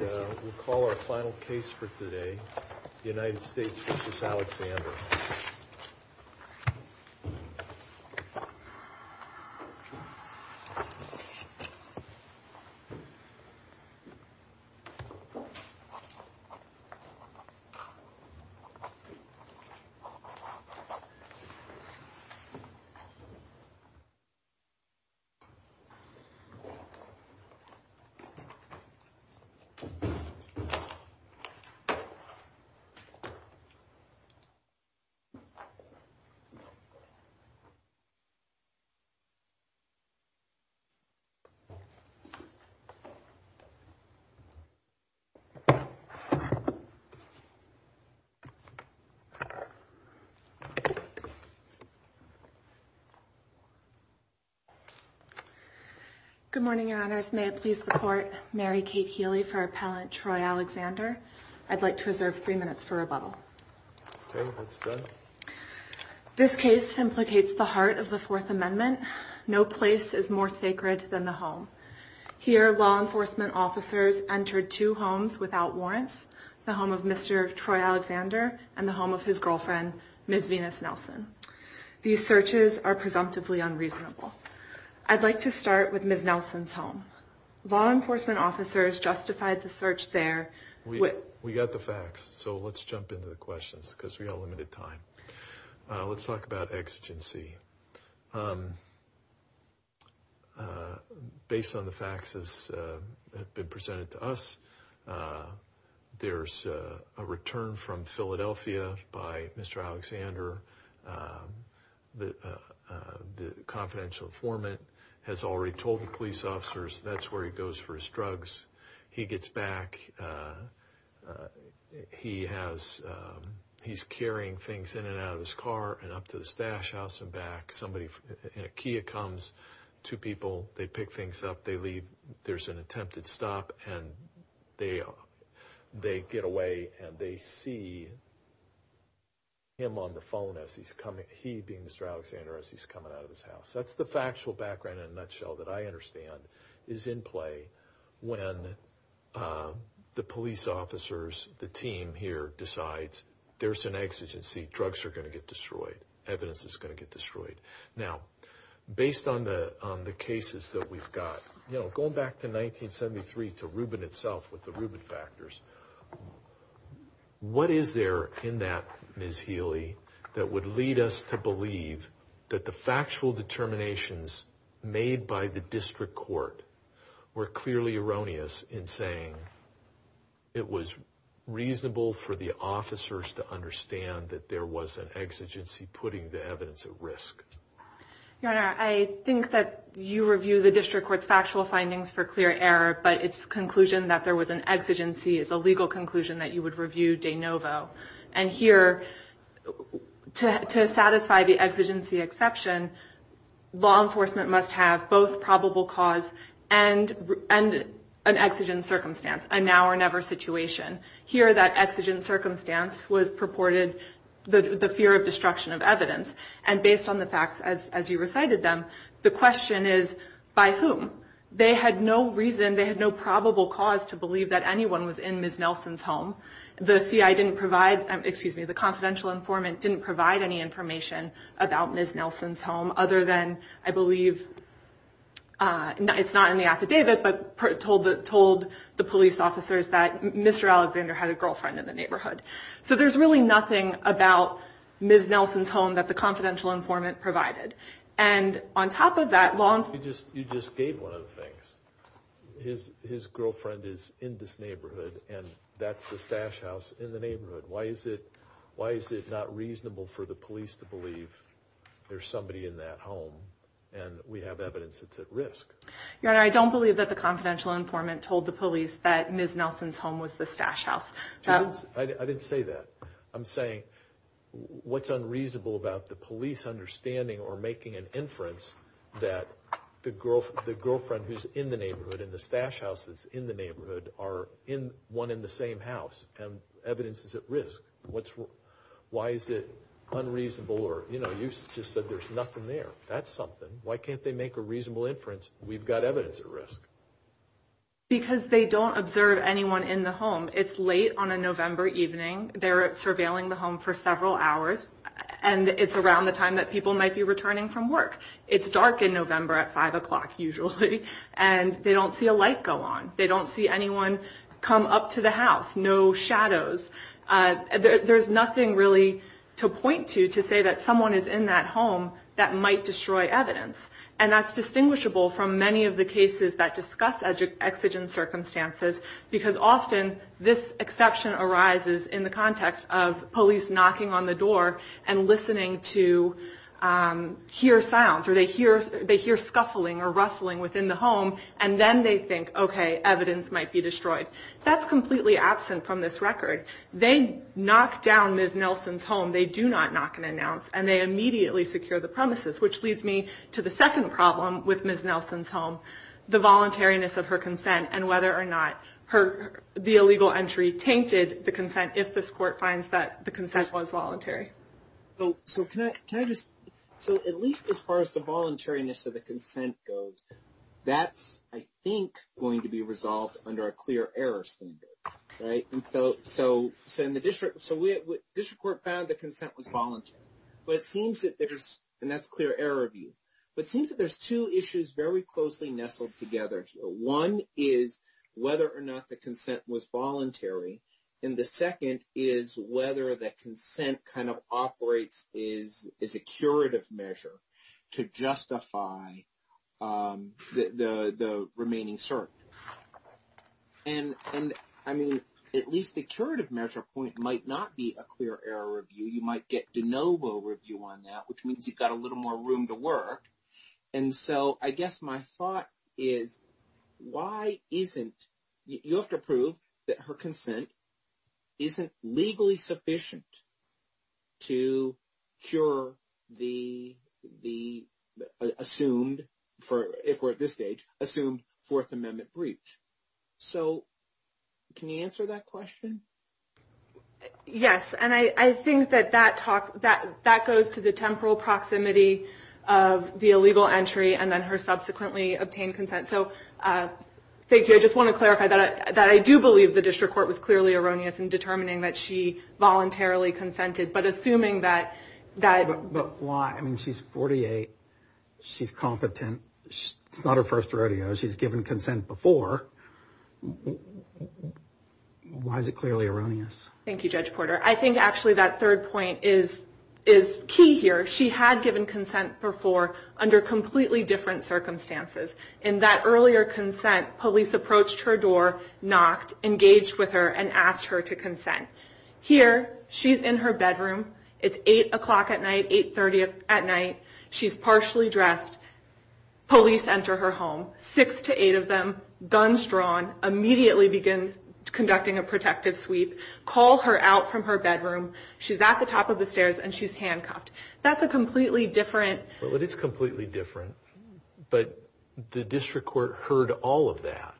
We'll call our final case for today, United States v. Alexander. Good morning, your honors, may it please the court, Mary Kate Healy for Appellant Troy Alexander. I'd like to reserve three minutes for rebuttal. This case implicates the heart of the Fourth Amendment. No place is more sacred than the home. Here, law enforcement officers entered two homes without warrants, the home of Mr. Troy Alexander and the home of his girlfriend, Ms. Venus Nelson. These searches are presumptively unreasonable. I'd like to start with Ms. Nelson's home. Law enforcement officers justified the search there. We got the facts, so let's jump into the questions because we have limited time. Let's talk about exigency. Based on the facts that have been presented to us, there's a return from Philadelphia by Mr. Alexander. The confidential informant has already told the police officers that's where he goes for his drugs. He gets back. He has, he's carrying things in and out of his car and up to the stash house and back. Somebody, a Kia comes, two people, they pick things up, they leave. There's an attempted stop and they get away and they see him on the phone as he's coming, he being Mr. Alexander, as he's coming out of his house. That's the factual background in a nutshell that I understand is in play when the police officers, the team here decides there's an exigency, drugs are going to get destroyed, evidence is going to get destroyed. Now, based on the cases that we've got, you know, going back to 1973 to Rubin itself with the Rubin factors, what is there in that, Ms. Healy, that would lead us to believe that the factual determinations made by the district court were clearly erroneous in saying it was reasonable for the officers to understand that there was an exigency putting the evidence at risk? Your Honor, I think that you review the district court's factual findings for clear error, but its conclusion that there was an exigency is a legal conclusion that you would review de novo. And here, to satisfy the exigency exception, law enforcement must have both probable cause and an exigent circumstance, a now or never situation. Here, that exigent circumstance was purported the fear of destruction of evidence. And based on the facts as you recited them, the question is by whom? They had no reason, to believe that anyone was in Ms. Nelson's home. The CI didn't provide, excuse me, the confidential informant didn't provide any information about Ms. Nelson's home other than, I believe, it's not in the affidavit, but told the police officers that Mr. Alexander had a girlfriend in the neighborhood. So there's really nothing about Ms. Nelson's home that the confidential informant provided. And on top of that, law enforcement- You just gave one of the things. His girlfriend is in this neighborhood, and that's the stash house in the neighborhood. Why is it not reasonable for the police to believe there's somebody in that home, and we have evidence that's at risk? Your Honor, I don't believe that the confidential informant told the police that Ms. Nelson's home was the stash house. I didn't say that. I'm saying what's unreasonable about the police understanding or making an inference that the girlfriend who's in the neighborhood and the stash house that's in the neighborhood are one in the same house, and evidence is at risk. Why is it unreasonable? You just said there's nothing there. That's something. Why can't they make a reasonable inference? We've got evidence at risk. Because they don't observe anyone in the home. It's late on a November evening. They're surveilling the home for several hours, and it's around the time that people might be returning from work. It's dark in November at five o'clock usually, and they don't see a light go on. They don't see anyone come up to the house. No shadows. There's nothing really to point to to say that someone is in that home that might destroy evidence. And that's distinguishable from many of the cases that discuss exigent circumstances, because often this exception arises in the context of police knocking on the door and listening to hear sounds, or they hear scuffling or rustling within the home, and then they think, okay, evidence might be destroyed. That's completely absent from this record. They knock down Ms. Nelson's home. They do not knock and announce, and they immediately secure the premises, which leads me to the second problem with Ms. Nelson's home, the voluntariness of her consent, and whether or not the illegal entry tainted the consent, if this court finds that the consent was voluntary. So can I just... So at least as far as the voluntariness of the consent goes, that's, I think, going to be resolved under a clear error standard, right? So the district court found the consent was voluntary, but it seems that there's... And that's clear error review. But it seems that there's two issues very closely nestled together here. One is whether or not the consent was voluntary, and the second is whether the consent kind of operates as a curative measure to justify the remaining cert. And, I mean, at least the curative measure point might not be a clear error review. You might get de novo review on that, which means you've got a little more room to work. And so I guess my thought is, why isn't... You have to prove that her consent isn't legally sufficient to cure the assumed, if we're at this stage, assumed Fourth Amendment breach. So can you answer that question? Yes, and I think that that goes to the temporal proximity of the illegal entry and then her subsequently obtained consent. So thank you. I just want to clarify that I do believe the district court was clearly erroneous in determining that she voluntarily consented, but assuming that... But why? I mean, she's 48. She's competent. It's not her first rodeo. She's given consent before. Why is it clearly erroneous? Thank you, Judge Porter. I think, actually, that third point is key here. She had given consent before under completely different circumstances. In that earlier consent, police approached her door, knocked, engaged with her, and asked her to consent. Here, she's in her bedroom. It's eight o'clock at night, 830 at night. She's partially dressed. Police enter her home, six to eight of them, guns drawn, immediately begin conducting a protective sweep, call her out from her bedroom. She's at the top of the stairs, and she's handcuffed. That's a completely different... Well, it is completely different, but the district court heard all of that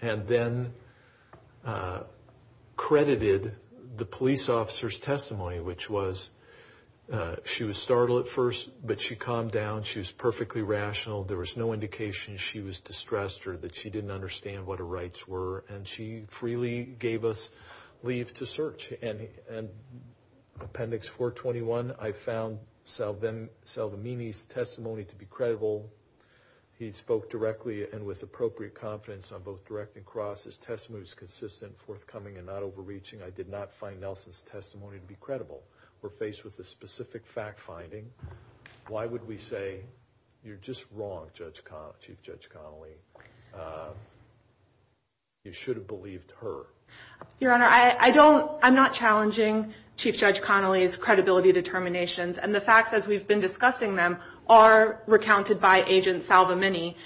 and then credited the police officer's testimony, which was she was startled at first, but she calmed down. She was perfectly rational. There was no indication she was distressed or that she didn't understand what her rights were, and she freely gave us leave to search. Appendix 421, I found Salvamini's testimony to be credible. He spoke directly and with appropriate confidence on both direct and cross. His testimony was consistent, forthcoming, and not overreaching. I did not find Nelson's testimony to be credible. We're faced with a You're just wrong, Chief Judge Connolly. You should have believed her. Your Honor, I'm not challenging Chief Judge Connolly's credibility determinations, and the facts as we've been discussing them are recounted by Agent Salvamini.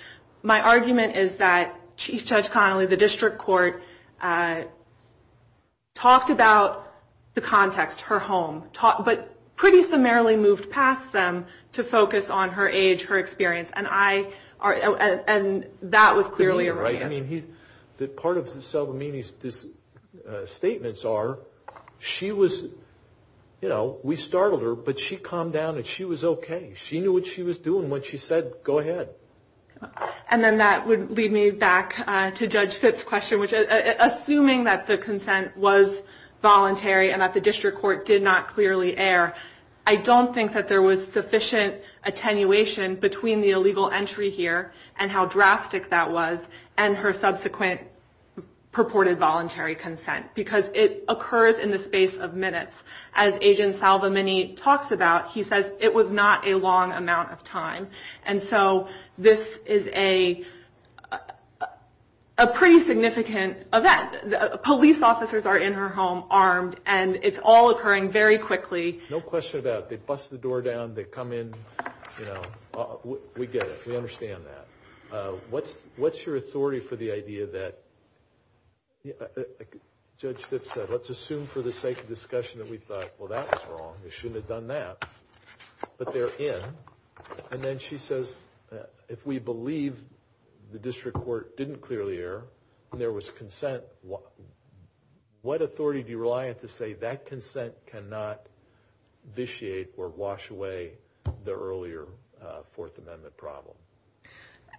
My argument is that Chief Judge Connolly, the district court, talked about the context, her home, but pretty summarily moved past them to focus on her experience, and that was clearly erroneous. I mean, part of Salvamini's statements are, she was, you know, we startled her, but she calmed down and she was okay. She knew what she was doing when she said, go ahead. And then that would lead me back to Judge Fitt's question, which assuming that the consent was voluntary and that the district court did not err, I don't think that there was sufficient attenuation between the illegal entry here and how drastic that was and her subsequent purported voluntary consent, because it occurs in the space of minutes. As Agent Salvamini talks about, he says it was not a long amount of time, and so this is a pretty significant event. Police officers are in her home armed, and it's all occurring very quickly. No question about it. They bust the door down, they come in, you know, we get it. We understand that. What's your authority for the idea that, Judge Fitt said, let's assume for the sake of discussion that we thought, well, that's wrong. We shouldn't have done that, but they're in. And then she says, if we believe the district court didn't clearly err, and there was consent, what authority do I have to say that consent cannot vitiate or wash away the earlier Fourth Amendment problem?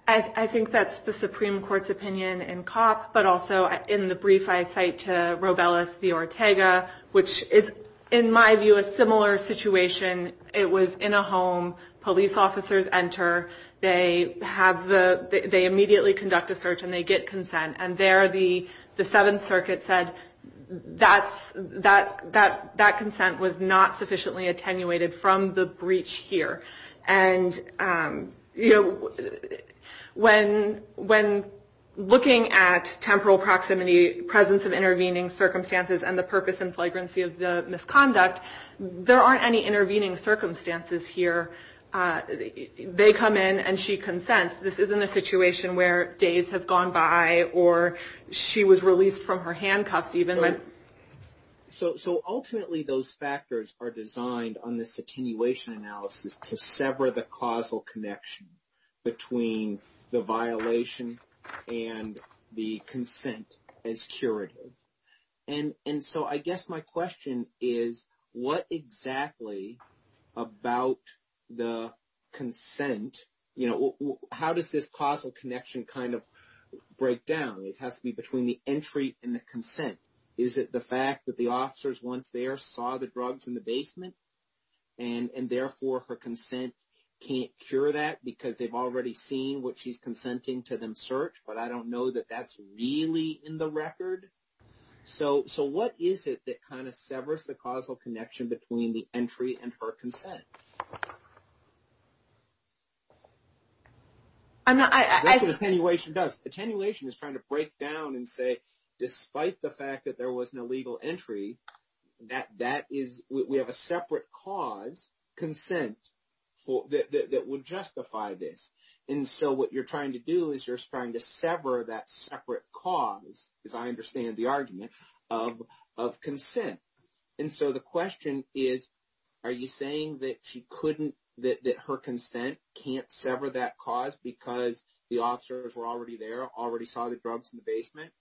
I think that's the Supreme Court's opinion in COP, but also in the brief I cite to Robelis v. Ortega, which is, in my view, a similar situation. It was in a home. Police officers enter. They immediately conduct a search, and they get consent. And there the that consent was not sufficiently attenuated from the breach here. And, you know, when looking at temporal proximity, presence of intervening circumstances, and the purpose and flagrancy of the misconduct, there aren't any intervening circumstances here. They come in, and she consents. This isn't a situation where days have gone by, or she was released from her handcuffs even. So, ultimately, those factors are designed on this attenuation analysis to sever the causal connection between the violation and the consent as curative. And so, I guess my question is, what exactly about the consent, you know, how does this causal connection kind of break down? It has to be between the entry and the consent. Is it the fact that the officers once there saw the drugs in the basement, and therefore her consent can't cure that because they've already seen what she's consenting to them search? But I don't know that that's really in the record. So, what is it that kind of severs the causal connection between the Attenuation is trying to break down and say, despite the fact that there was no legal entry, that that is, we have a separate cause consent for that would justify this. And so, what you're trying to do is you're trying to sever that separate cause, as I understand the argument of consent. And so, the question is, are you saying that she couldn't, that her consent can't sever that cause because the officers were already there, already saw the drugs in the basement?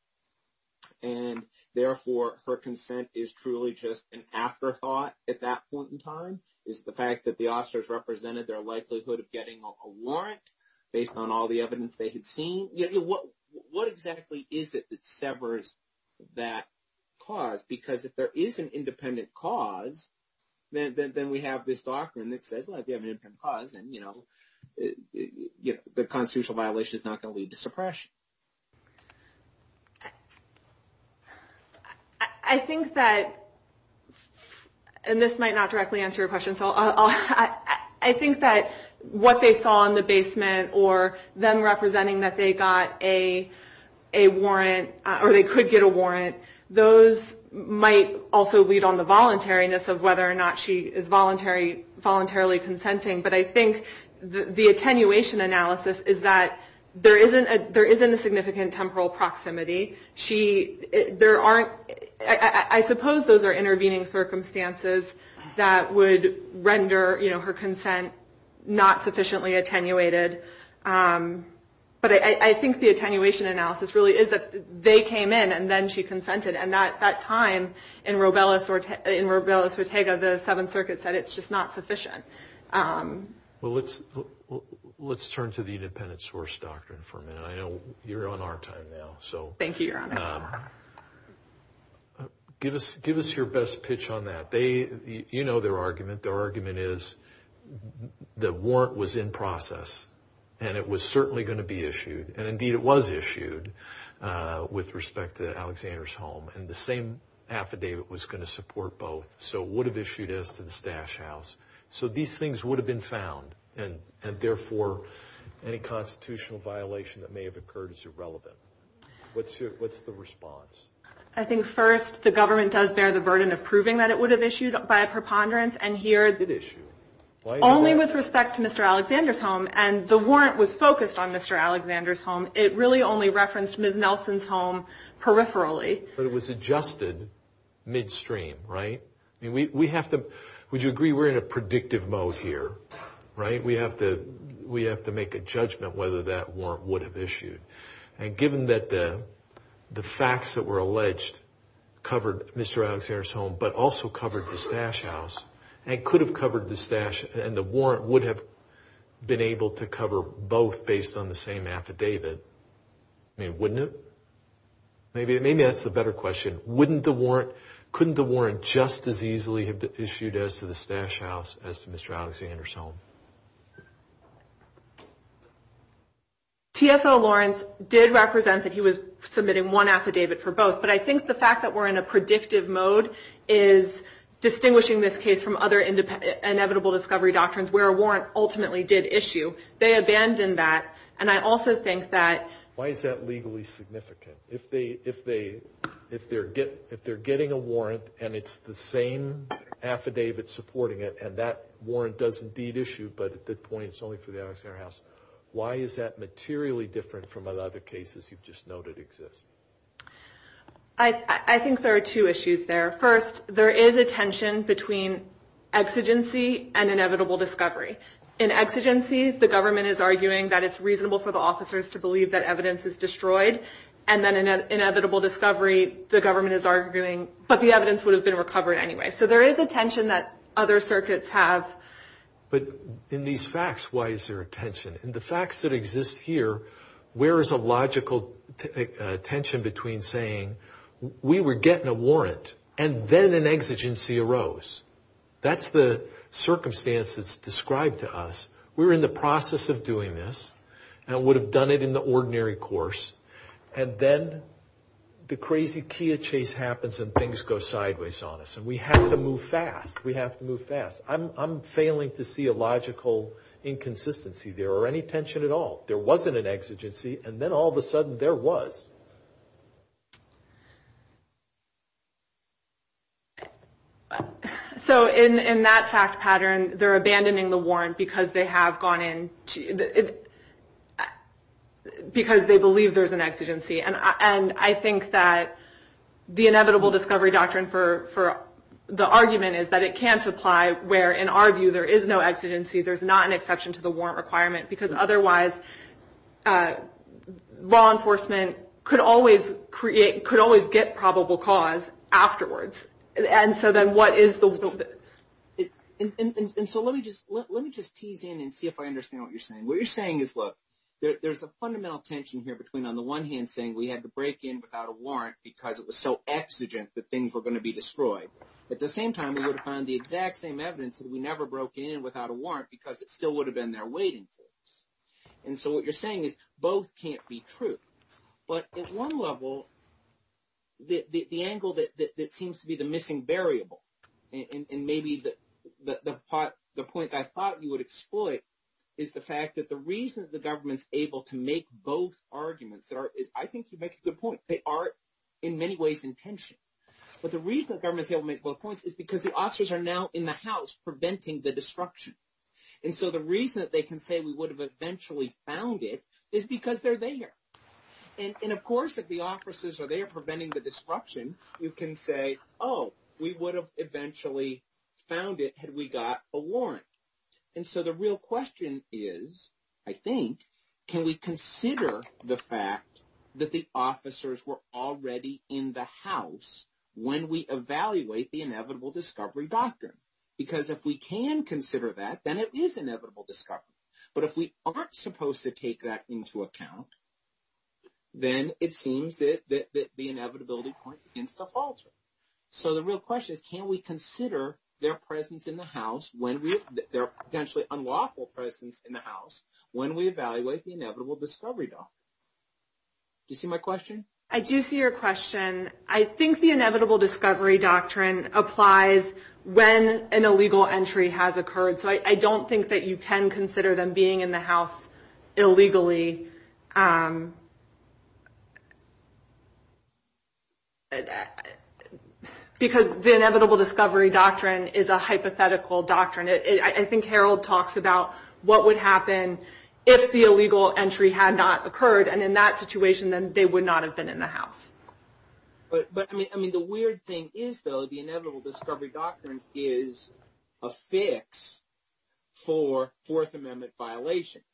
And therefore, her consent is truly just an afterthought at that point in time? Is the fact that the officers represented their likelihood of getting a warrant based on all the evidence they had seen? What exactly is it that severs that cause? Because if there is an independent cause, then we have this doctrine that says, well, if you have an independent cause, the constitutional violation is not going to lead to suppression. I think that, and this might not directly answer your question. So, I think that what they saw in the basement, or them representing that they got a warrant, or they could get a warrant, those might also lead on the voluntariness of whether or not she is voluntarily consenting. But I think the attenuation analysis is that there isn't a significant temporal proximity. There aren't, I suppose those are intervening circumstances that would render her consent not sufficiently attenuated. But I think the attenuation analysis really is that they came in and then she consented. And at that time, in Robella's Ortega, the Seventh Circuit said it's just not sufficient. Well, let's turn to the independent source doctrine for a minute. I know you're on our time now. Thank you, Your Honor. Give us your best pitch on that. You know their argument. Their argument is the warrant was in process, and it was certainly going to be issued. And indeed, it was issued with respect to Alexander's home. And the same affidavit was going to support both. So, would have issued as to the Stash House. So, these things would have been found. And therefore, any constitutional violation that may have occurred is irrelevant. What's the response? I think first, the government does bear the burden of proving that it would have issued by a preponderance. And here, only with respect to Mr. Alexander's home. And the warrant was focused on Mr. Alexander's home. It really only referenced Ms. Nelson's home peripherally. But it was adjusted midstream, right? Would you agree we're in a predictive mode here, right? We have to make a judgment whether that warrant would have issued. And given that the facts that were alleged covered Mr. Alexander's home, but also covered the Stash House, and could have covered the Stash, and the warrant would have been able to cover both based on the same affidavit. I mean, wouldn't it? Maybe that's the better question. Wouldn't the warrant, just as easily, have issued as to the Stash House as to Mr. Alexander's home? TFO Lawrence did represent that he was submitting one affidavit for both. But I think the fact that we're in a predictive mode is distinguishing this case from other inevitable discovery doctrines, where a warrant ultimately did issue. They abandoned that. And I also think that... It's the same affidavit supporting it. And that warrant does indeed issue. But at that point, it's only for the Alexander House. Why is that materially different from other cases you've just noted exist? I think there are two issues there. First, there is a tension between exigency and inevitable discovery. In exigency, the government is arguing that it's reasonable for the officers to believe that evidence is destroyed. And then in inevitable discovery, the government is arguing, but the evidence would have been recovered anyway. So there is a tension that other circuits have. But in these facts, why is there a tension? In the facts that exist here, where is a logical tension between saying, we were getting a warrant, and then an exigency arose? That's the circumstance that's described to us. We were in the process of doing this, and would have done it in the ordinary course. And then the crazy Kia chase happens, and things go sideways on us. And we have to move fast. We have to move fast. I'm failing to see a logical inconsistency there, or any tension at all. There wasn't an exigency, and then all of a sudden, there was. So in that fact pattern, they're abandoning the warrant, because they believe there's an exigency. And I think that the inevitable discovery doctrine for the argument is that it can't apply, where in our view, there is no exigency. There's not an exception to the warrant requirement. Because otherwise, law enforcement could always create, could always get probable cause afterwards. And so then what is the... And so let me just tease in, and see if I understand what you're saying. What you're saying is, look, there's a fundamental tension here between, on the one hand, saying we had to break in without a warrant, because it was so exigent that things were going to be destroyed. At the same time, we would have found the exact same evidence that we never broke in without a warrant, because it still would have been there waiting for us. And so what you're saying is, both can't be true. But at one level, the angle that seems to be the missing variable, and maybe the point I thought you would exploit, is the fact that the reason the government's able to make both arguments that are... I think you make a good point. They are, in many ways, intention. But the reason the government's able to make both points is because the officers are now in the house preventing the destruction. And so the reason that they can say we would have eventually found it is because they're there. And of course, if the officers are there preventing the disruption, you can say, oh, we would have eventually found it had we got a warrant. And so the real question is, I think, can we consider the fact that the officers were already in the house when we evaluate the inevitable discovery doctrine? Because if we can consider that, then it is inevitable discovery. But if we aren't supposed to take that into account, then it seems that the inevitability point begins to falter. So the real question is, can we consider their presence in the house when we... their potentially unlawful presence in the house when we evaluate the inevitable discovery doctrine? Do you see my question? I do see your question. I think the inevitable discovery doctrine applies when an illegal entry has occurred. So I don't think that you can consider them being in the house illegally. Because the inevitable discovery doctrine is a hypothetical doctrine. I think Harold talks about what would happen if the illegal entry had not occurred. And in that situation, then they would not have been in the house. But I mean, the weird thing is, though, the inevitable discovery doctrine is a fix for Fourth Amendment violations.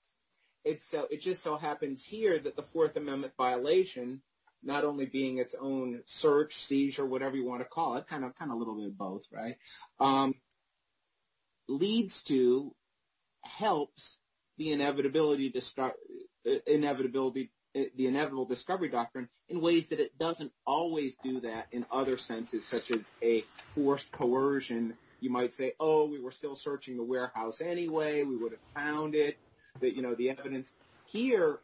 It just so happens here that the Fourth Amendment violation, not only being its own search, seizure, whatever you want to call it, kind of a little bit of both, right, leads to, helps the inevitable discovery doctrine in ways that it doesn't always do that in other senses, such as a forced coercion. You might say, oh, we were still searching the warehouse anyway. We would have found it, that, you know, the evidence here,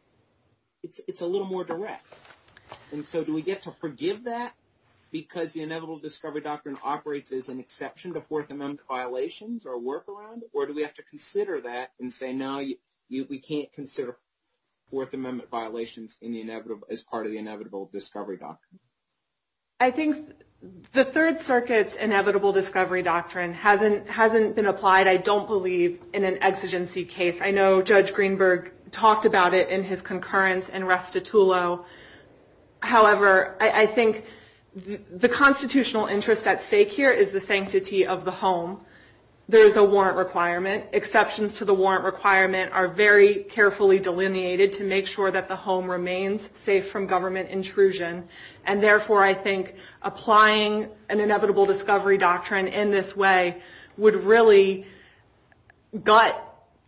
it's a little more direct. And so do we get to forgive that because the inevitable discovery doctrine operates as an exception to Fourth Amendment violations or work around it? Or do we have to consider that and say, no, we can't consider Fourth Amendment violations as part of the inevitable discovery doctrine? I think the Third Circuit's inevitable discovery doctrine hasn't been applied, I don't believe, in an exigency case. I know Judge Greenberg talked about it in his concurrence in Restitulo. However, I think the constitutional interest at stake here is the sanctity of the home. There is a warrant requirement. Exceptions to the warrant requirement are very carefully delineated to make sure that the home remains safe from government intrusion. And therefore, I think applying an inevitable discovery doctrine in this way would really gut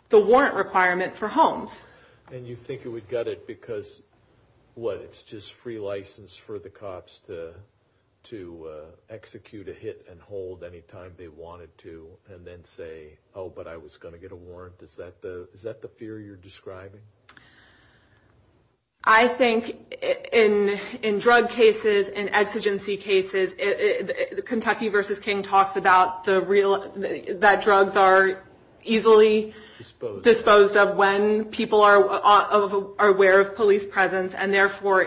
the warrant requirement for homes. And you think it would gut it because, what, it's just free license for the cops to execute a hit and hold anytime they wanted to, and then say, oh, but I was going to get a warrant. Is that the fear you're describing? I think in drug cases, in exigency cases, Kentucky v. King talks about that drugs are easily disposed of when people are aware of police presence. And therefore,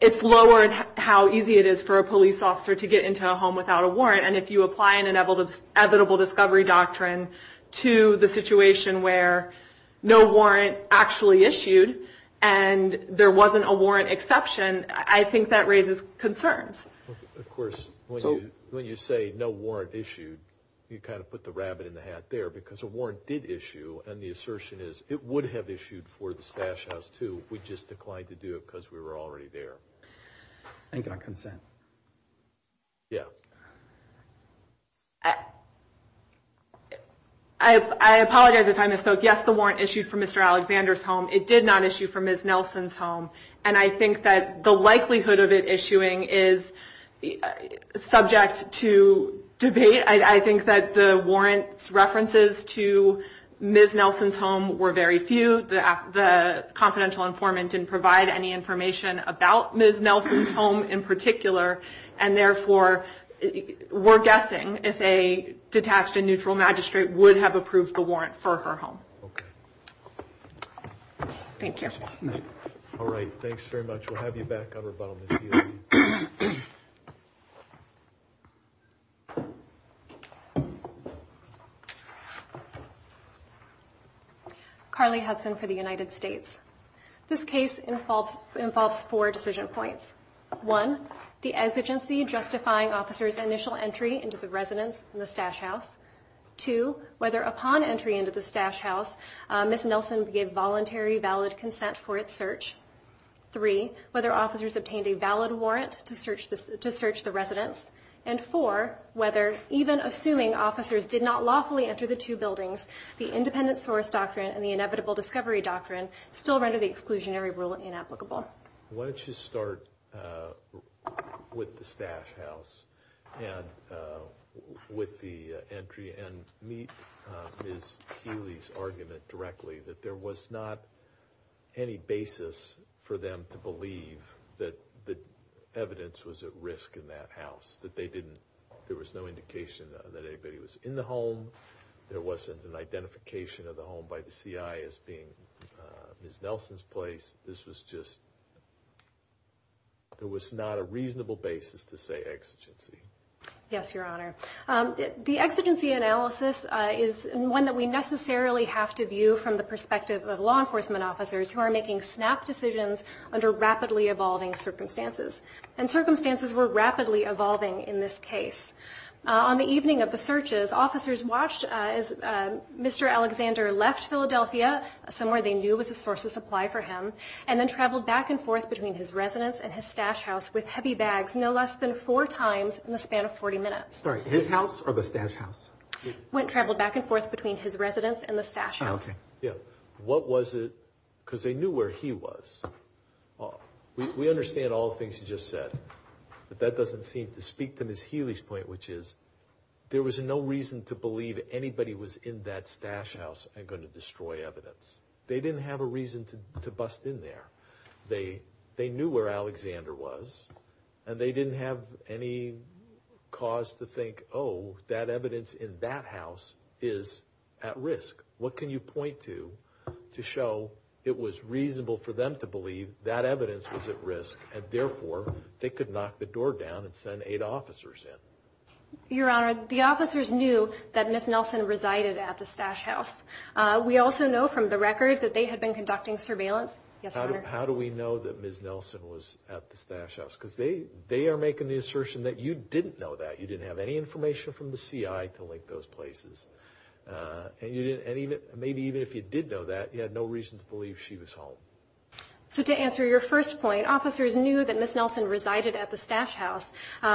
it's lower how easy it is for a police officer to get into a home without a warrant. And if you apply an inevitable discovery doctrine to the situation where no warrant actually issued and there wasn't a warrant exception, I think that raises concerns. Of course, when you say no warrant issued, you kind of put the rabbit in the hat there, because a warrant did issue. And the assertion is it would have issued for the stash house, too. We just declined to do it because we were already there. Think on consent. Yeah. I apologize if I misspoke. Yes, the warrant issued for Mr. Alexander's home. It did not issue for Ms. Nelson's home. And I think that the likelihood of it issuing is subject to debate. I think that the warrant's references to Ms. Nelson's home were very few. The confidential informant didn't provide any information about Ms. Nelson's home in particular. And therefore, we're guessing if a detached and neutral magistrate would have approved the warrant for her home. Thank you. All right. Thanks very much. We'll have you back. Rebuttal, Ms. Healy. Carly Hudson for the United States. This case involves four decision points. One, the exigency justifying officer's initial entry into the residence in the stash house. Two, whether upon entry into the stash house, Ms. Nelson gave voluntary valid consent for its search. Three, whether officers obtained a valid warrant to search the residence. And four, whether even assuming officers did not lawfully enter the two buildings, the independent source doctrine and the inevitable discovery doctrine still render the exclusionary rule inapplicable. Why don't you start with the stash house and with the entry and meet Ms. Healy's argument directly that there was not any basis for them to believe that the evidence was at risk in that house, that they didn't, there was no indication that anybody was in the home. There wasn't an identification of the home by the CI as being Ms. Nelson's place. This was just, there was not a reasonable basis to say exigency. Yes, Your Honor. The exigency analysis is one that we necessarily have to view from the perspective of law enforcement officers who are making snap decisions under rapidly evolving circumstances. And circumstances were rapidly evolving in this case. On the evening of the searches, officers watched as Mr. Alexander left Philadelphia, somewhere they knew was a source of supply for him, and then traveled back and forth between his residence and his stash house with heavy bags no less than four times in the span of 40 minutes. Sorry, his house or the stash house? Went, traveled back and forth between his residence and the stash house. Yeah. What was it, because they knew where he was. We understand all the things you just said, but that doesn't seem to speak to Ms. Healy's point, which is there was no reason to believe anybody was in that stash house and going to destroy evidence. They didn't have a reason to bust in there. They knew where Alexander was and they didn't have any cause to think, oh, that you point to, to show it was reasonable for them to believe that evidence was at risk and therefore they could knock the door down and send eight officers in. Your Honor, the officers knew that Ms. Nelson resided at the stash house. We also know from the record that they had been conducting surveillance. How do we know that Ms. Nelson was at the stash house? Because they are making the assertion that you didn't know that. You didn't have any information from the CI to link those places. And maybe even if you did know that, you had no reason to believe she was home. So to answer your first point, officers knew that Ms. Nelson resided at the stash house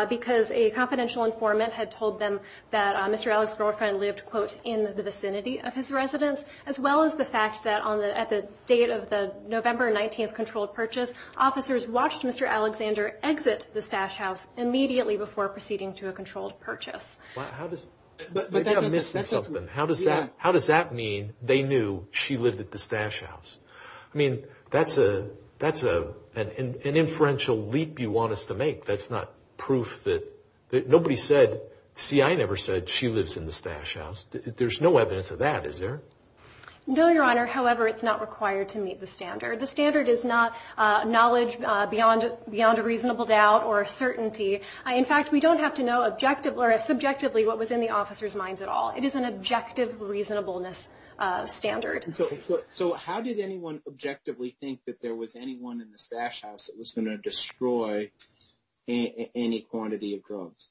because a confidential informant had told them that Mr. Alexander's girlfriend lived, quote, in the vicinity of his residence, as well as the fact that on the, at the date of the November 19th controlled purchase, officers watched Mr. Alexander exit the stash house immediately before proceeding to a controlled purchase. How does that, how does that mean they knew she lived at the stash house? I mean, that's a, that's a, an inferential leap you want us to make. That's not proof that, that nobody said, CI never said she lives in the stash house. There's no evidence of that, is there? No, Your Honor. However, it's not required to meet the In fact, we don't have to know objective or subjectively what was in the officer's minds at all. It is an objective reasonableness standard. So how did anyone objectively think that there was anyone in the stash house that was going to destroy any quantity of drugs?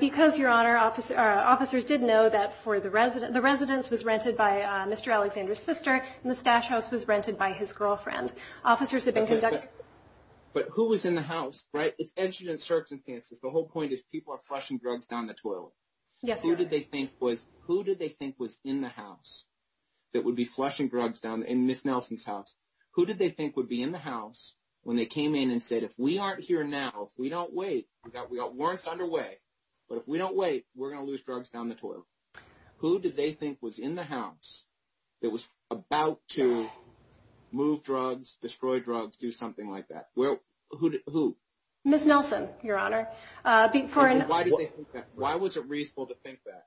Because, Your Honor, officers did know that for the resident, the residence was rented by Mr. Alexander's sister and the stash house was rented by his girlfriend. Officers had been But who was in the house, right? It's entered in circumstances. The whole point is people are flushing drugs down the toilet. Who did they think was, who did they think was in the house that would be flushing drugs down in Ms. Nelson's house? Who did they think would be in the house when they came in and said, if we aren't here now, if we don't wait, we got warrants underway, but if we don't wait, we're going to lose drugs down the toilet. Who did they think was in the house? Ms. Nelson, Your Honor. Why was it reasonable to think that?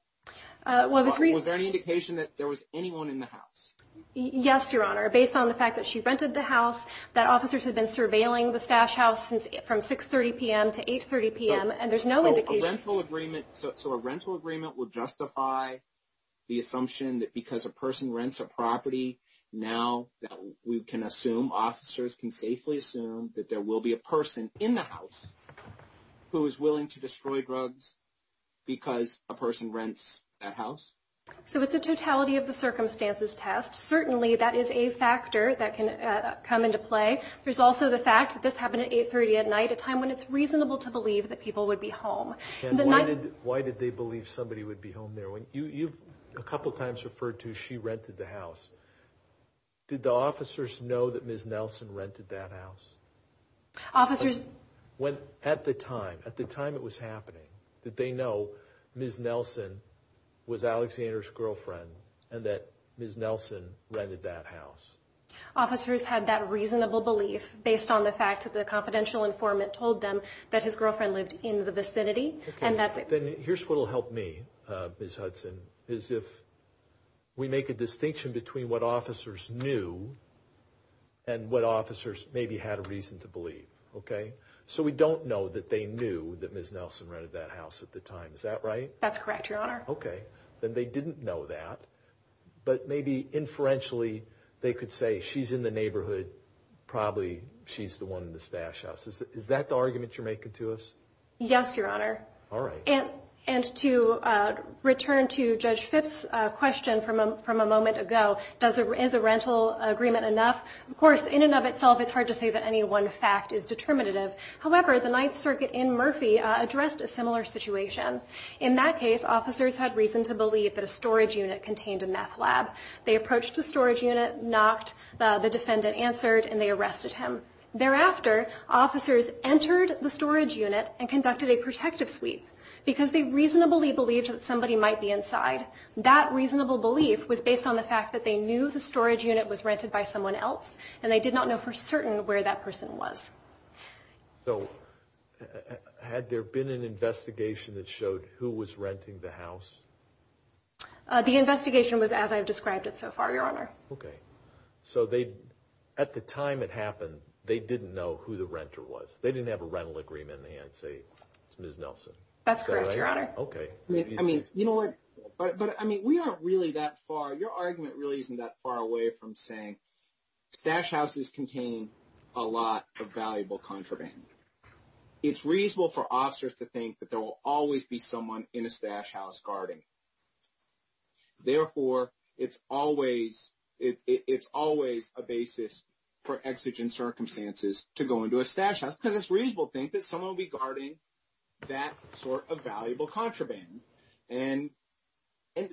Was there any indication that there was anyone in the house? Yes, Your Honor. Based on the fact that she rented the house, that officers had been surveilling the stash house since from 6.30 PM to 8.30 PM and there's no indication. So a rental agreement would justify the assumption that because a person rents a that there will be a person in the house who is willing to destroy drugs because a person rents that house. So it's a totality of the circumstances test. Certainly that is a factor that can come into play. There's also the fact that this happened at 8.30 at night, a time when it's reasonable to believe that people would be home. Why did they believe somebody would be home there? When you've a couple of times referred to, she rented the house. Did the officers know that Ms. Nelson rented that house? At the time it was happening, did they know Ms. Nelson was Alexander's girlfriend and that Ms. Nelson rented that house? Officers had that reasonable belief based on the fact that the confidential informant told them that his girlfriend lived in the vicinity. Then here's what will help me, Ms. Hudson, is if we make a distinction between what officers knew and what officers maybe had a reason to believe. So we don't know that they knew that Ms. Nelson rented that house at the time. Is that right? That's correct, your honor. Okay. Then they didn't know that, but maybe inferentially they could say she's in the neighborhood, probably she's the one in the stash house. Is that the argument you're making to us? Yes, your honor. All right. And to return to Judge Phipps' question from a moment ago, is a rental agreement enough? Of course, in and of itself, it's hard to say that any one fact is determinative. However, the Ninth Circuit in Murphy addressed a similar situation. In that case, officers had reason to believe that a storage unit contained a meth lab. They approached the storage unit, knocked, the defendant answered and they arrested him. Thereafter, officers entered the storage unit and conducted a protective sweep because they reasonably believed that somebody might be inside. That reasonable belief was based on the fact that they knew the storage unit was rented by someone else and they did not know for certain where that person was. So had there been an investigation that showed who was renting the house? The investigation was as I've described it so far, your honor. Okay. So at the time it happened, they didn't know who the renter was. They didn't have a rental agreement in the hand say, it's Ms. Nelson. That's correct, your honor. Okay. I mean, you know what? But I mean, we aren't really that far. Your argument really isn't that far away from saying stash houses contain a lot of valuable contraband. It's reasonable for officers to think that there will always be someone in a stash house guarding. Okay. Therefore, it's always a basis for exigent circumstances to go into a stash house because it's a reasonable thing that someone will be guarding that sort of valuable contraband. And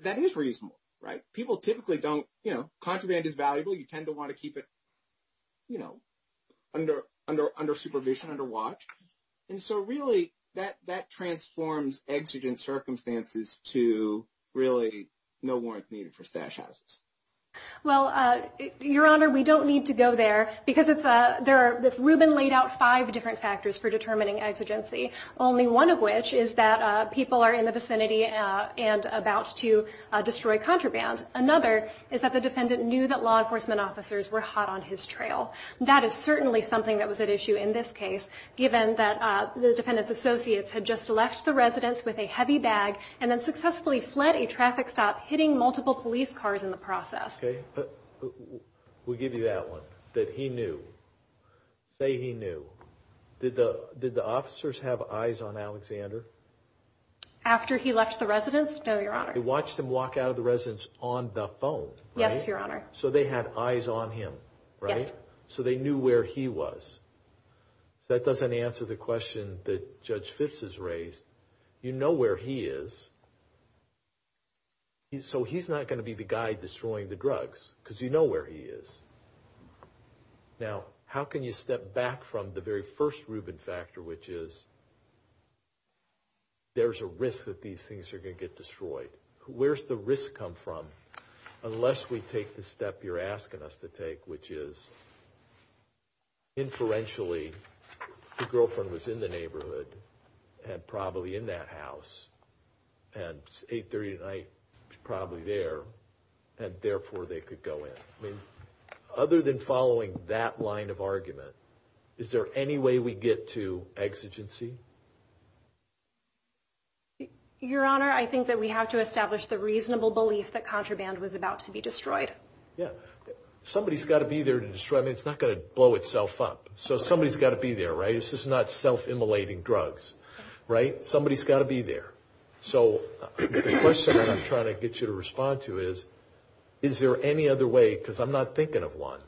that is reasonable, right? People typically don't, you know, contraband is valuable. You tend to want to keep it, you know, under supervision, under watch. And so really that transforms exigent circumstances to really no warrant needed for stash houses. Well, your honor, we don't need to go there because Ruben laid out five different factors for determining exigency. Only one of which is that people are in the vicinity and about to destroy contraband. Another is that the defendant knew that law enforcement officers were hot on his trail. That is certainly something that was at issue in this case, given that the defendant's heavy bag and then successfully fled a traffic stop, hitting multiple police cars in the process. We'll give you that one, that he knew. Say he knew. Did the officers have eyes on Alexander? After he left the residence? No, your honor. They watched him walk out of the residence on the phone. Yes, your honor. So they had eyes on him, right? So they knew where he was. So that doesn't answer the question that Judge Phipps has raised. You know where he is. So he's not going to be the guy destroying the drugs, because you know where he is. Now, how can you step back from the very first Ruben factor, which is there's a risk that these things are going to get destroyed. Where's the risk come from, unless we take the step you're asking us to take, which is inferentially the girlfriend was in the neighborhood and probably in that house and it's 8 30 at night, probably there. And therefore they could go in. I mean, other than following that line of argument, is there any way we get to exigency? Your honor, I think that we have to establish the reasonable belief that contraband was about to be destroyed. Yeah. Somebody's got to be there to destroy. I mean, it's not going to blow itself up. So somebody's got to be there, right? This is not self-immolating drugs, right? Somebody's got to be there. So the question I'm trying to get you to respond to is, is there any other way, because I'm not thinking of one,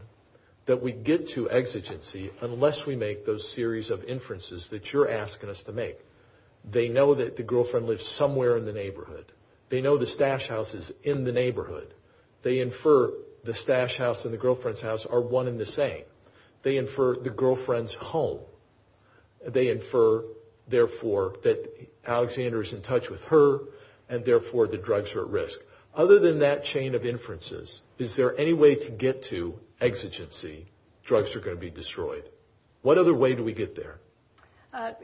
that we get to exigency unless we make those series of inferences that you're asking us to make. They know that the girlfriend lives somewhere in the neighborhood. They know the stash house is in the neighborhood. They infer the stash house and the girlfriend's house are one in the same. They infer the girlfriend's home. They infer, therefore, that Alexander is in touch with her and therefore the drugs are at risk. Other than that chain of inferences, is there any way to get to exigency? Drugs are going to be destroyed. What other way do we get there?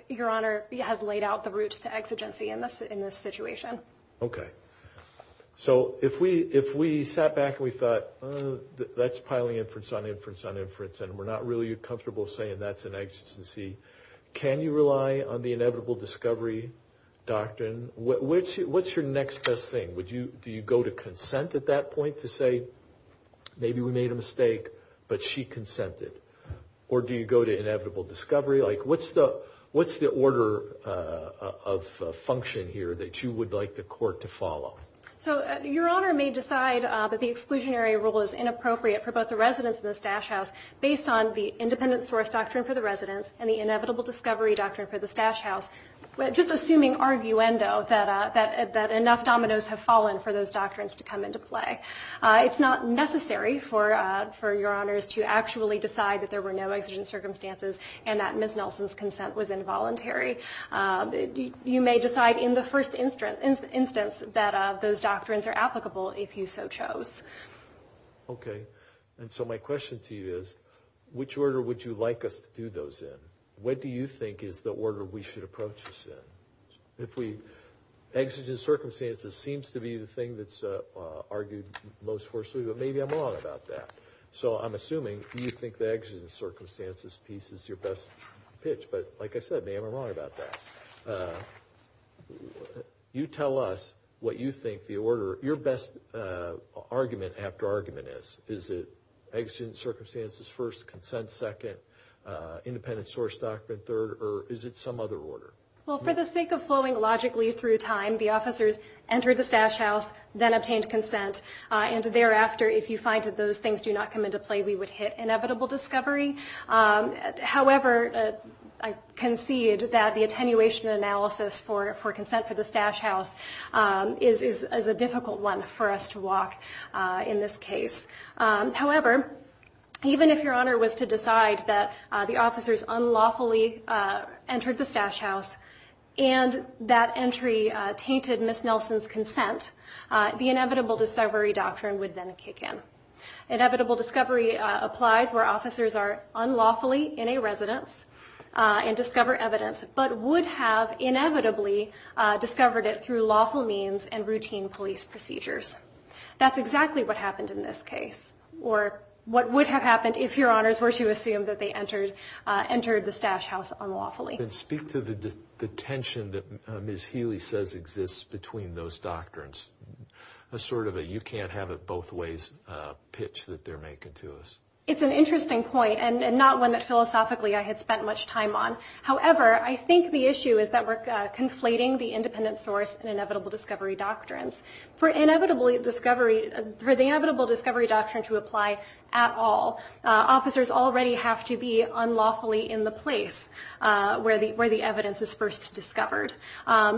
Your Honor, he has laid out the routes to exigency in this situation. Okay. So if we sat back and we thought, that's piling inference on inference on inference, and we're not really comfortable saying that's an exigency, can you rely on the inevitable discovery doctrine? What's your next best thing? Do you go to consent at that point to say, maybe we made a mistake, but she consented? Or do you go to inevitable discovery? Like, what's the order of function here that you would like the court to follow? So your Honor may decide that the exclusionary rule is inappropriate for both the residents in the stash house based on the independent source doctrine for the residents and the inevitable discovery doctrine for the stash house, just assuming arguendo that enough dominoes have fallen for those doctrines to come into play. It's not necessary for your Honors to actually decide that there were no exigent circumstances and that Ms. Nelson's consent was involuntary. You may decide in the first instance that those doctrines are applicable if you so chose. Okay. And so my question to you is, which order would you like us to do those in? What do you think is the order we should approach this in? Exigent circumstances seems to be the thing that's argued most forcibly, but maybe I'm wrong about that. So I'm assuming you think the exigent circumstances piece is your best pitch. But like I said, maybe I'm wrong about that. You tell us what you think the order, your best argument after argument is. Is it exigent source doctrine third or is it some other order? Well, for the sake of flowing logically through time, the officers entered the stash house, then obtained consent. And thereafter, if you find that those things do not come into play, we would hit inevitable discovery. However, I concede that the attenuation analysis for consent for the stash house is a difficult one for us to walk in this case. However, even if your honor was to decide that the officers unlawfully entered the stash house and that entry tainted Ms. Nelson's consent, the inevitable discovery doctrine would then kick in. Inevitable discovery applies where officers are unlawfully in a residence and discover evidence, but would have inevitably discovered it through lawful means and routine police procedures. That's exactly what happened in this case, or what would have happened if your honors were to assume that they entered the stash house unlawfully. Then speak to the tension that Ms. Healy says exists between those doctrines. A sort of a you can't have it both ways pitch that they're making to us. It's an interesting point and not one that philosophically I had spent much time on. However, I think the issue is that we're conflating the independent source and inevitable discovery doctrines. For the inevitable discovery doctrine to apply at all, officers already have to be unlawfully in the place where the evidence is first discovered.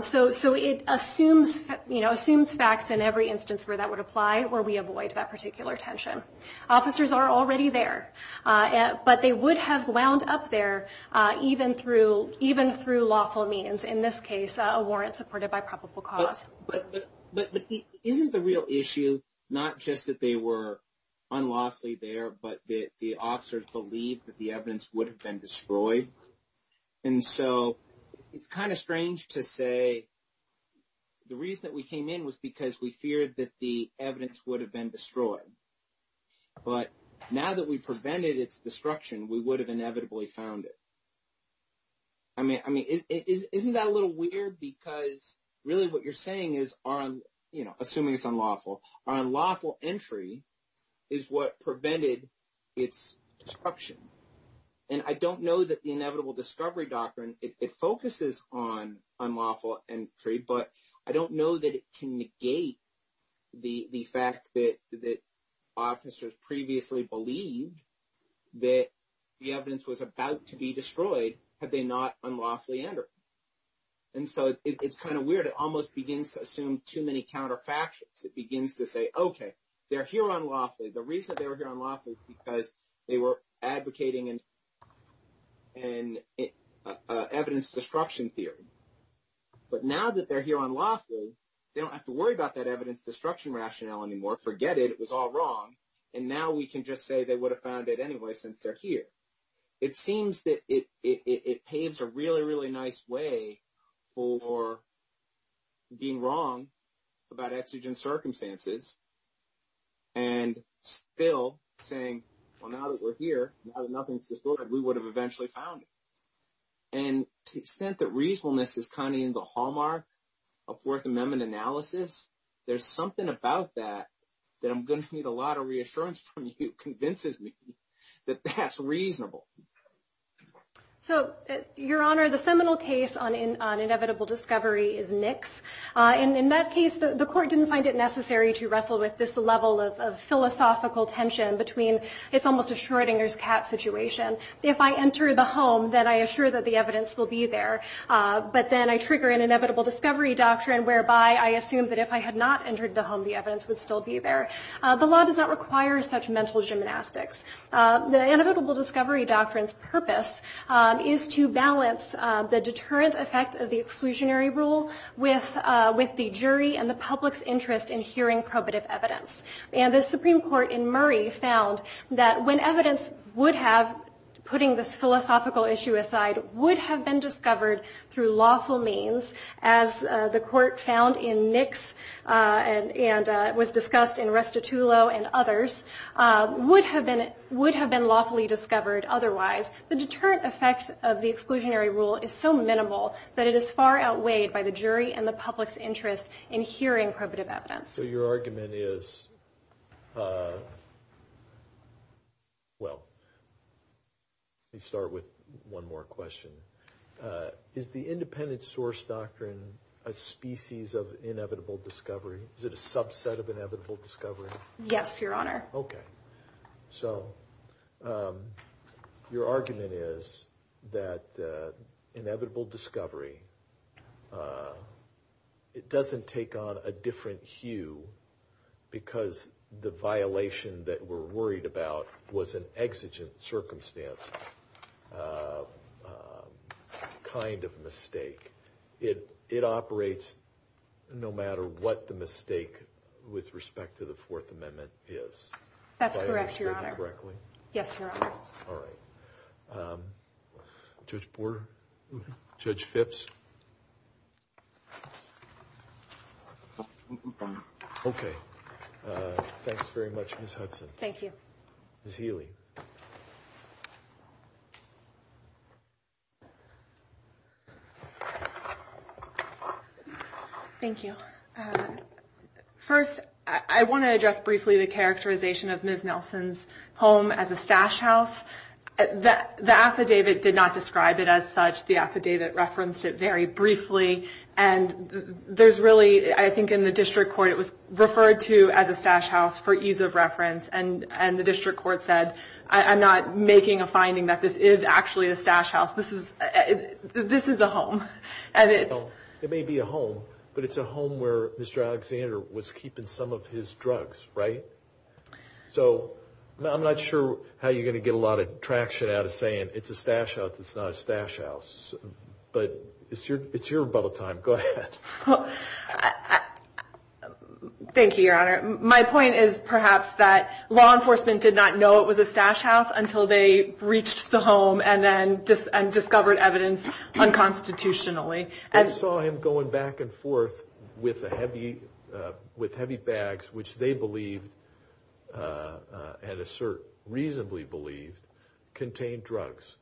So it assumes facts in every instance where that would apply, where we avoid that particular tension. Officers are already there, but they would have wound up there even through lawful means. In this case, a warrant supported by probable cause. But isn't the real issue not just that they were unlawfully there, but that the officers believed that the evidence would have been destroyed? And so it's kind of strange to say the reason that we came in was because we feared that the evidence would have been destroyed. But now that we prevented its destruction, we would have inevitably found it. I mean, isn't that a little weird? Because really what you're saying is assuming it's unlawful. Our unlawful entry is what prevented its destruction. And I don't know that the inevitable discovery doctrine, it focuses on unlawful entry, but I don't know that it can negate the fact that officers previously believed that the evidence was about to be destroyed had they not unlawfully entered. And so it's kind of weird. It almost begins to assume too many counterfactuals. It begins to say, okay, they're here unlawfully. The reason they were here unlawfully is because they were advocating an evidence destruction theory. But now that they're here unlawfully, they don't have to worry about that evidence destruction rationale anymore. Forget it. It was all wrong. And now we can just say they would have found it anyway since they're here. It seems that it paves a really, really nice way for being wrong about exigent circumstances and still saying, well, now that we're here, now that nothing's destroyed, we would have eventually found it. And to the extent that reasonableness is kind of in the hallmark of Fourth Amendment analysis, there's something about that that I'm going to need a lot of reassurance from you convinces me that that's reasonable. So, Your Honor, the seminal case on inevitable discovery is Nix. And in that case, the court didn't find it necessary to wrestle with this level of philosophical tension between it's almost a Schrodinger's cat situation. If I enter the home, then I assure that the evidence will be there. But then I trigger an inevitable discovery doctrine whereby I assume that if I had not entered the home, the evidence would still be there. The law does not require such mental gymnastics. The inevitable discovery doctrine's purpose is to balance the deterrent effect of the exclusionary rule with the jury and the public's interest in hearing probative evidence. And the Supreme Court in Murray found that when evidence would have, putting this philosophical issue aside, would have been discovered through lawful means, as the court found in Nix and was discussed in Restitulo and others, would have been lawfully discovered otherwise. The deterrent effect of the exclusionary rule is so minimal that it is far outweighed by the jury and the public's interest in hearing probative evidence. So your argument is, well, let me start with one more question. Is the independent source doctrine a species of inevitable discovery? Is it a subset of inevitable discovery? Yes, Your Honor. Okay. So your argument is that inevitable discovery, uh, it doesn't take on a different hue because the violation that we're worried about was an exigent circumstance, uh, kind of mistake. It, it operates no matter what the mistake with respect to the Fourth Amendment is. That's correct, Your Honor. If I understood you correctly? Yes, Your Honor. All right. Um, Judge Borer? Judge Phipps? Okay. Uh, thanks very much, Ms. Hudson. Thank you. Ms. Healy? Thank you. Uh, first, I, I want to address briefly the characterization of Ms. Nelson's home as a stash house. The affidavit did not describe it as such. The affidavit referenced it very briefly. And there's really, I think in the district court, it was referred to as a stash house for ease of reference. And, and the district court said, I'm not making a finding that this is actually a stash house. This is, this is a home. It may be a home, but it's a home where Mr. Alexander was keeping some of his drugs, right? So I'm not sure how you're going to get a lot of traction out of saying it's a stash house. It's not a stash house, but it's your, it's your bubble time. Go ahead. Thank you, Your Honor. My point is perhaps that law enforcement did not know it was a stash house until they reached the home and then discovered evidence unconstitutionally. They saw him going back and forth with a heavy, with heavy bags, which they believed, and assert reasonably believed, contained drugs.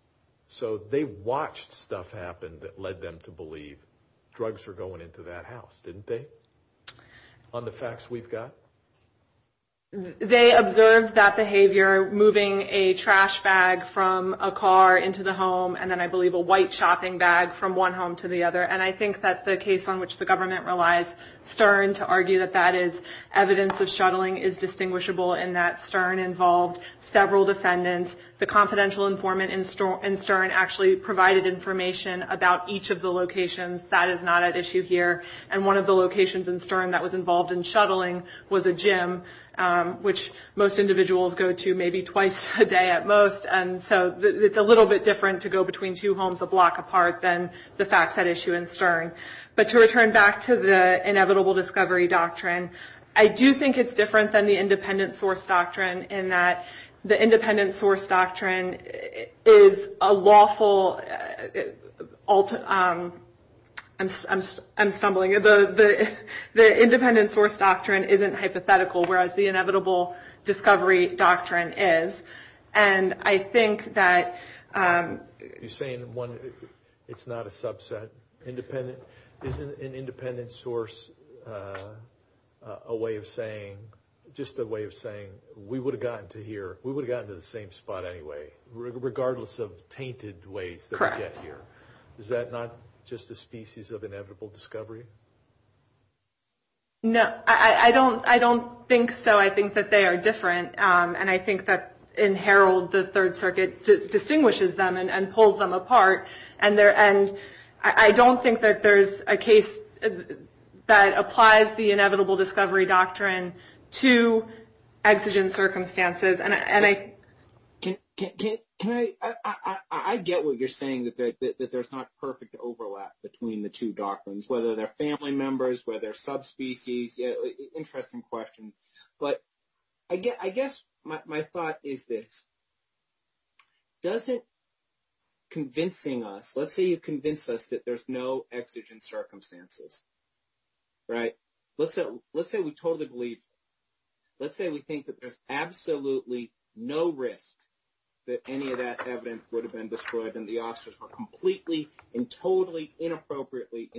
So they watched stuff happen that led them to believe drugs are going into that house, didn't they? On the facts we've got? They observed that behavior, moving a trash bag from a car into the home, and then I believe a home to the other. And I think that the case on which the government relies, Stern, to argue that that is evidence of shuttling is distinguishable in that Stern involved several defendants. The confidential informant in Stern actually provided information about each of the locations. That is not at issue here. And one of the locations in Stern that was involved in shuttling was a gym, which most individuals go to maybe twice a day at most. And so it's a little bit different to go between two homes a block apart than the facts at issue in Stern. But to return back to the inevitable discovery doctrine, I do think it's different than the independent source doctrine in that the independent source doctrine is a lawful, I'm stumbling, the independent source doctrine isn't hypothetical, whereas the inevitable discovery doctrine is. And I think that you're saying one, it's not a subset, independent, isn't an independent source a way of saying, just a way of saying, we would have gotten to here, we would have gotten to the same spot anyway, regardless of tainted ways to get here. Is that not just a species of inevitable discovery? No, I don't think so. I think that they are different. And I think that in Herald, the Third Circuit distinguishes them and pulls them apart. And I don't think that there's a case that applies the inevitable discovery doctrine to exigent circumstances. I get what you're saying, that there's not perfect overlap between the two doctrines, whether they're family members, whether subspecies, interesting question. But I guess my thought is this, doesn't convincing us, let's say you convince us that there's no exigent circumstances, right? Let's say we totally believe, let's say we think that there's absolutely no risk that any of that evidence would have been destroyed and the officers were completely and totally inappropriately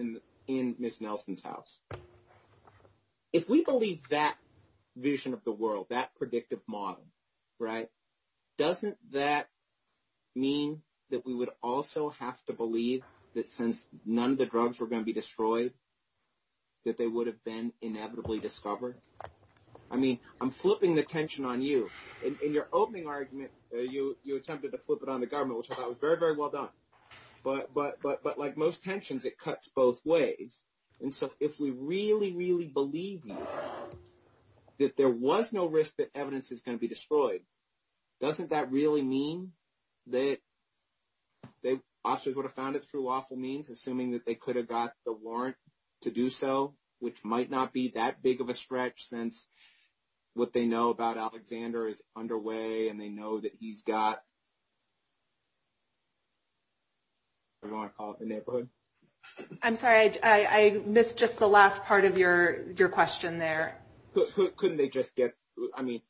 in Ms. Nelson's house. If we believe that vision of the world, that predictive model, right? Doesn't that mean that we would also have to believe that since none of the drugs were going to be destroyed, that they would have been inevitably discovered? I mean, I'm flipping the tension on you. In your opening argument, you attempted to flip it on the government, which I thought was very, very well done. But like most tensions, it cuts both ways. And so, if we really, really believe that there was no risk that evidence is going to be destroyed, doesn't that really mean that the officers would have found it through awful means, assuming that they could have got the warrant to do so, which might not be that big of a stretch since what they know about Alexander is underway and they know that he's got a warrant called the neighborhood? I'm sorry, I missed just the last part of your question there. Couldn't they just get, I mean,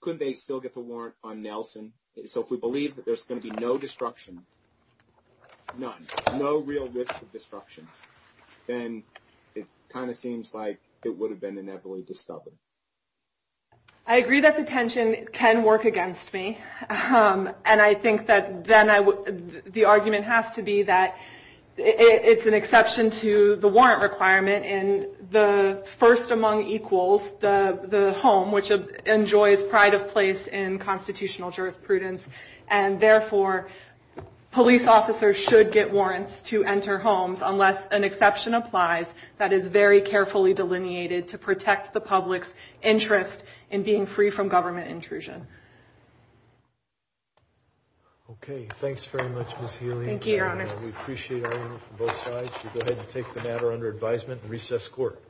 couldn't they still get the warrant on Nelson? So, if we believe that there's going to be no destruction, none, no real risk of destruction, then it kind of seems like it would have been inevitably discovered. I agree that the tension can work against me. And I think that then the argument has to be that it's an exception to the warrant requirement in the first among equals, the home, which enjoys pride of place in constitutional jurisprudence. And therefore, police officers should get warrants to enter homes unless an exception applies that is very carefully delineated to protect the public's interest in being free from government intrusion. Okay, thanks very much, Ms. Healy. Thank you, your honors. We appreciate both sides to go ahead and take the matter under advisement and recess court.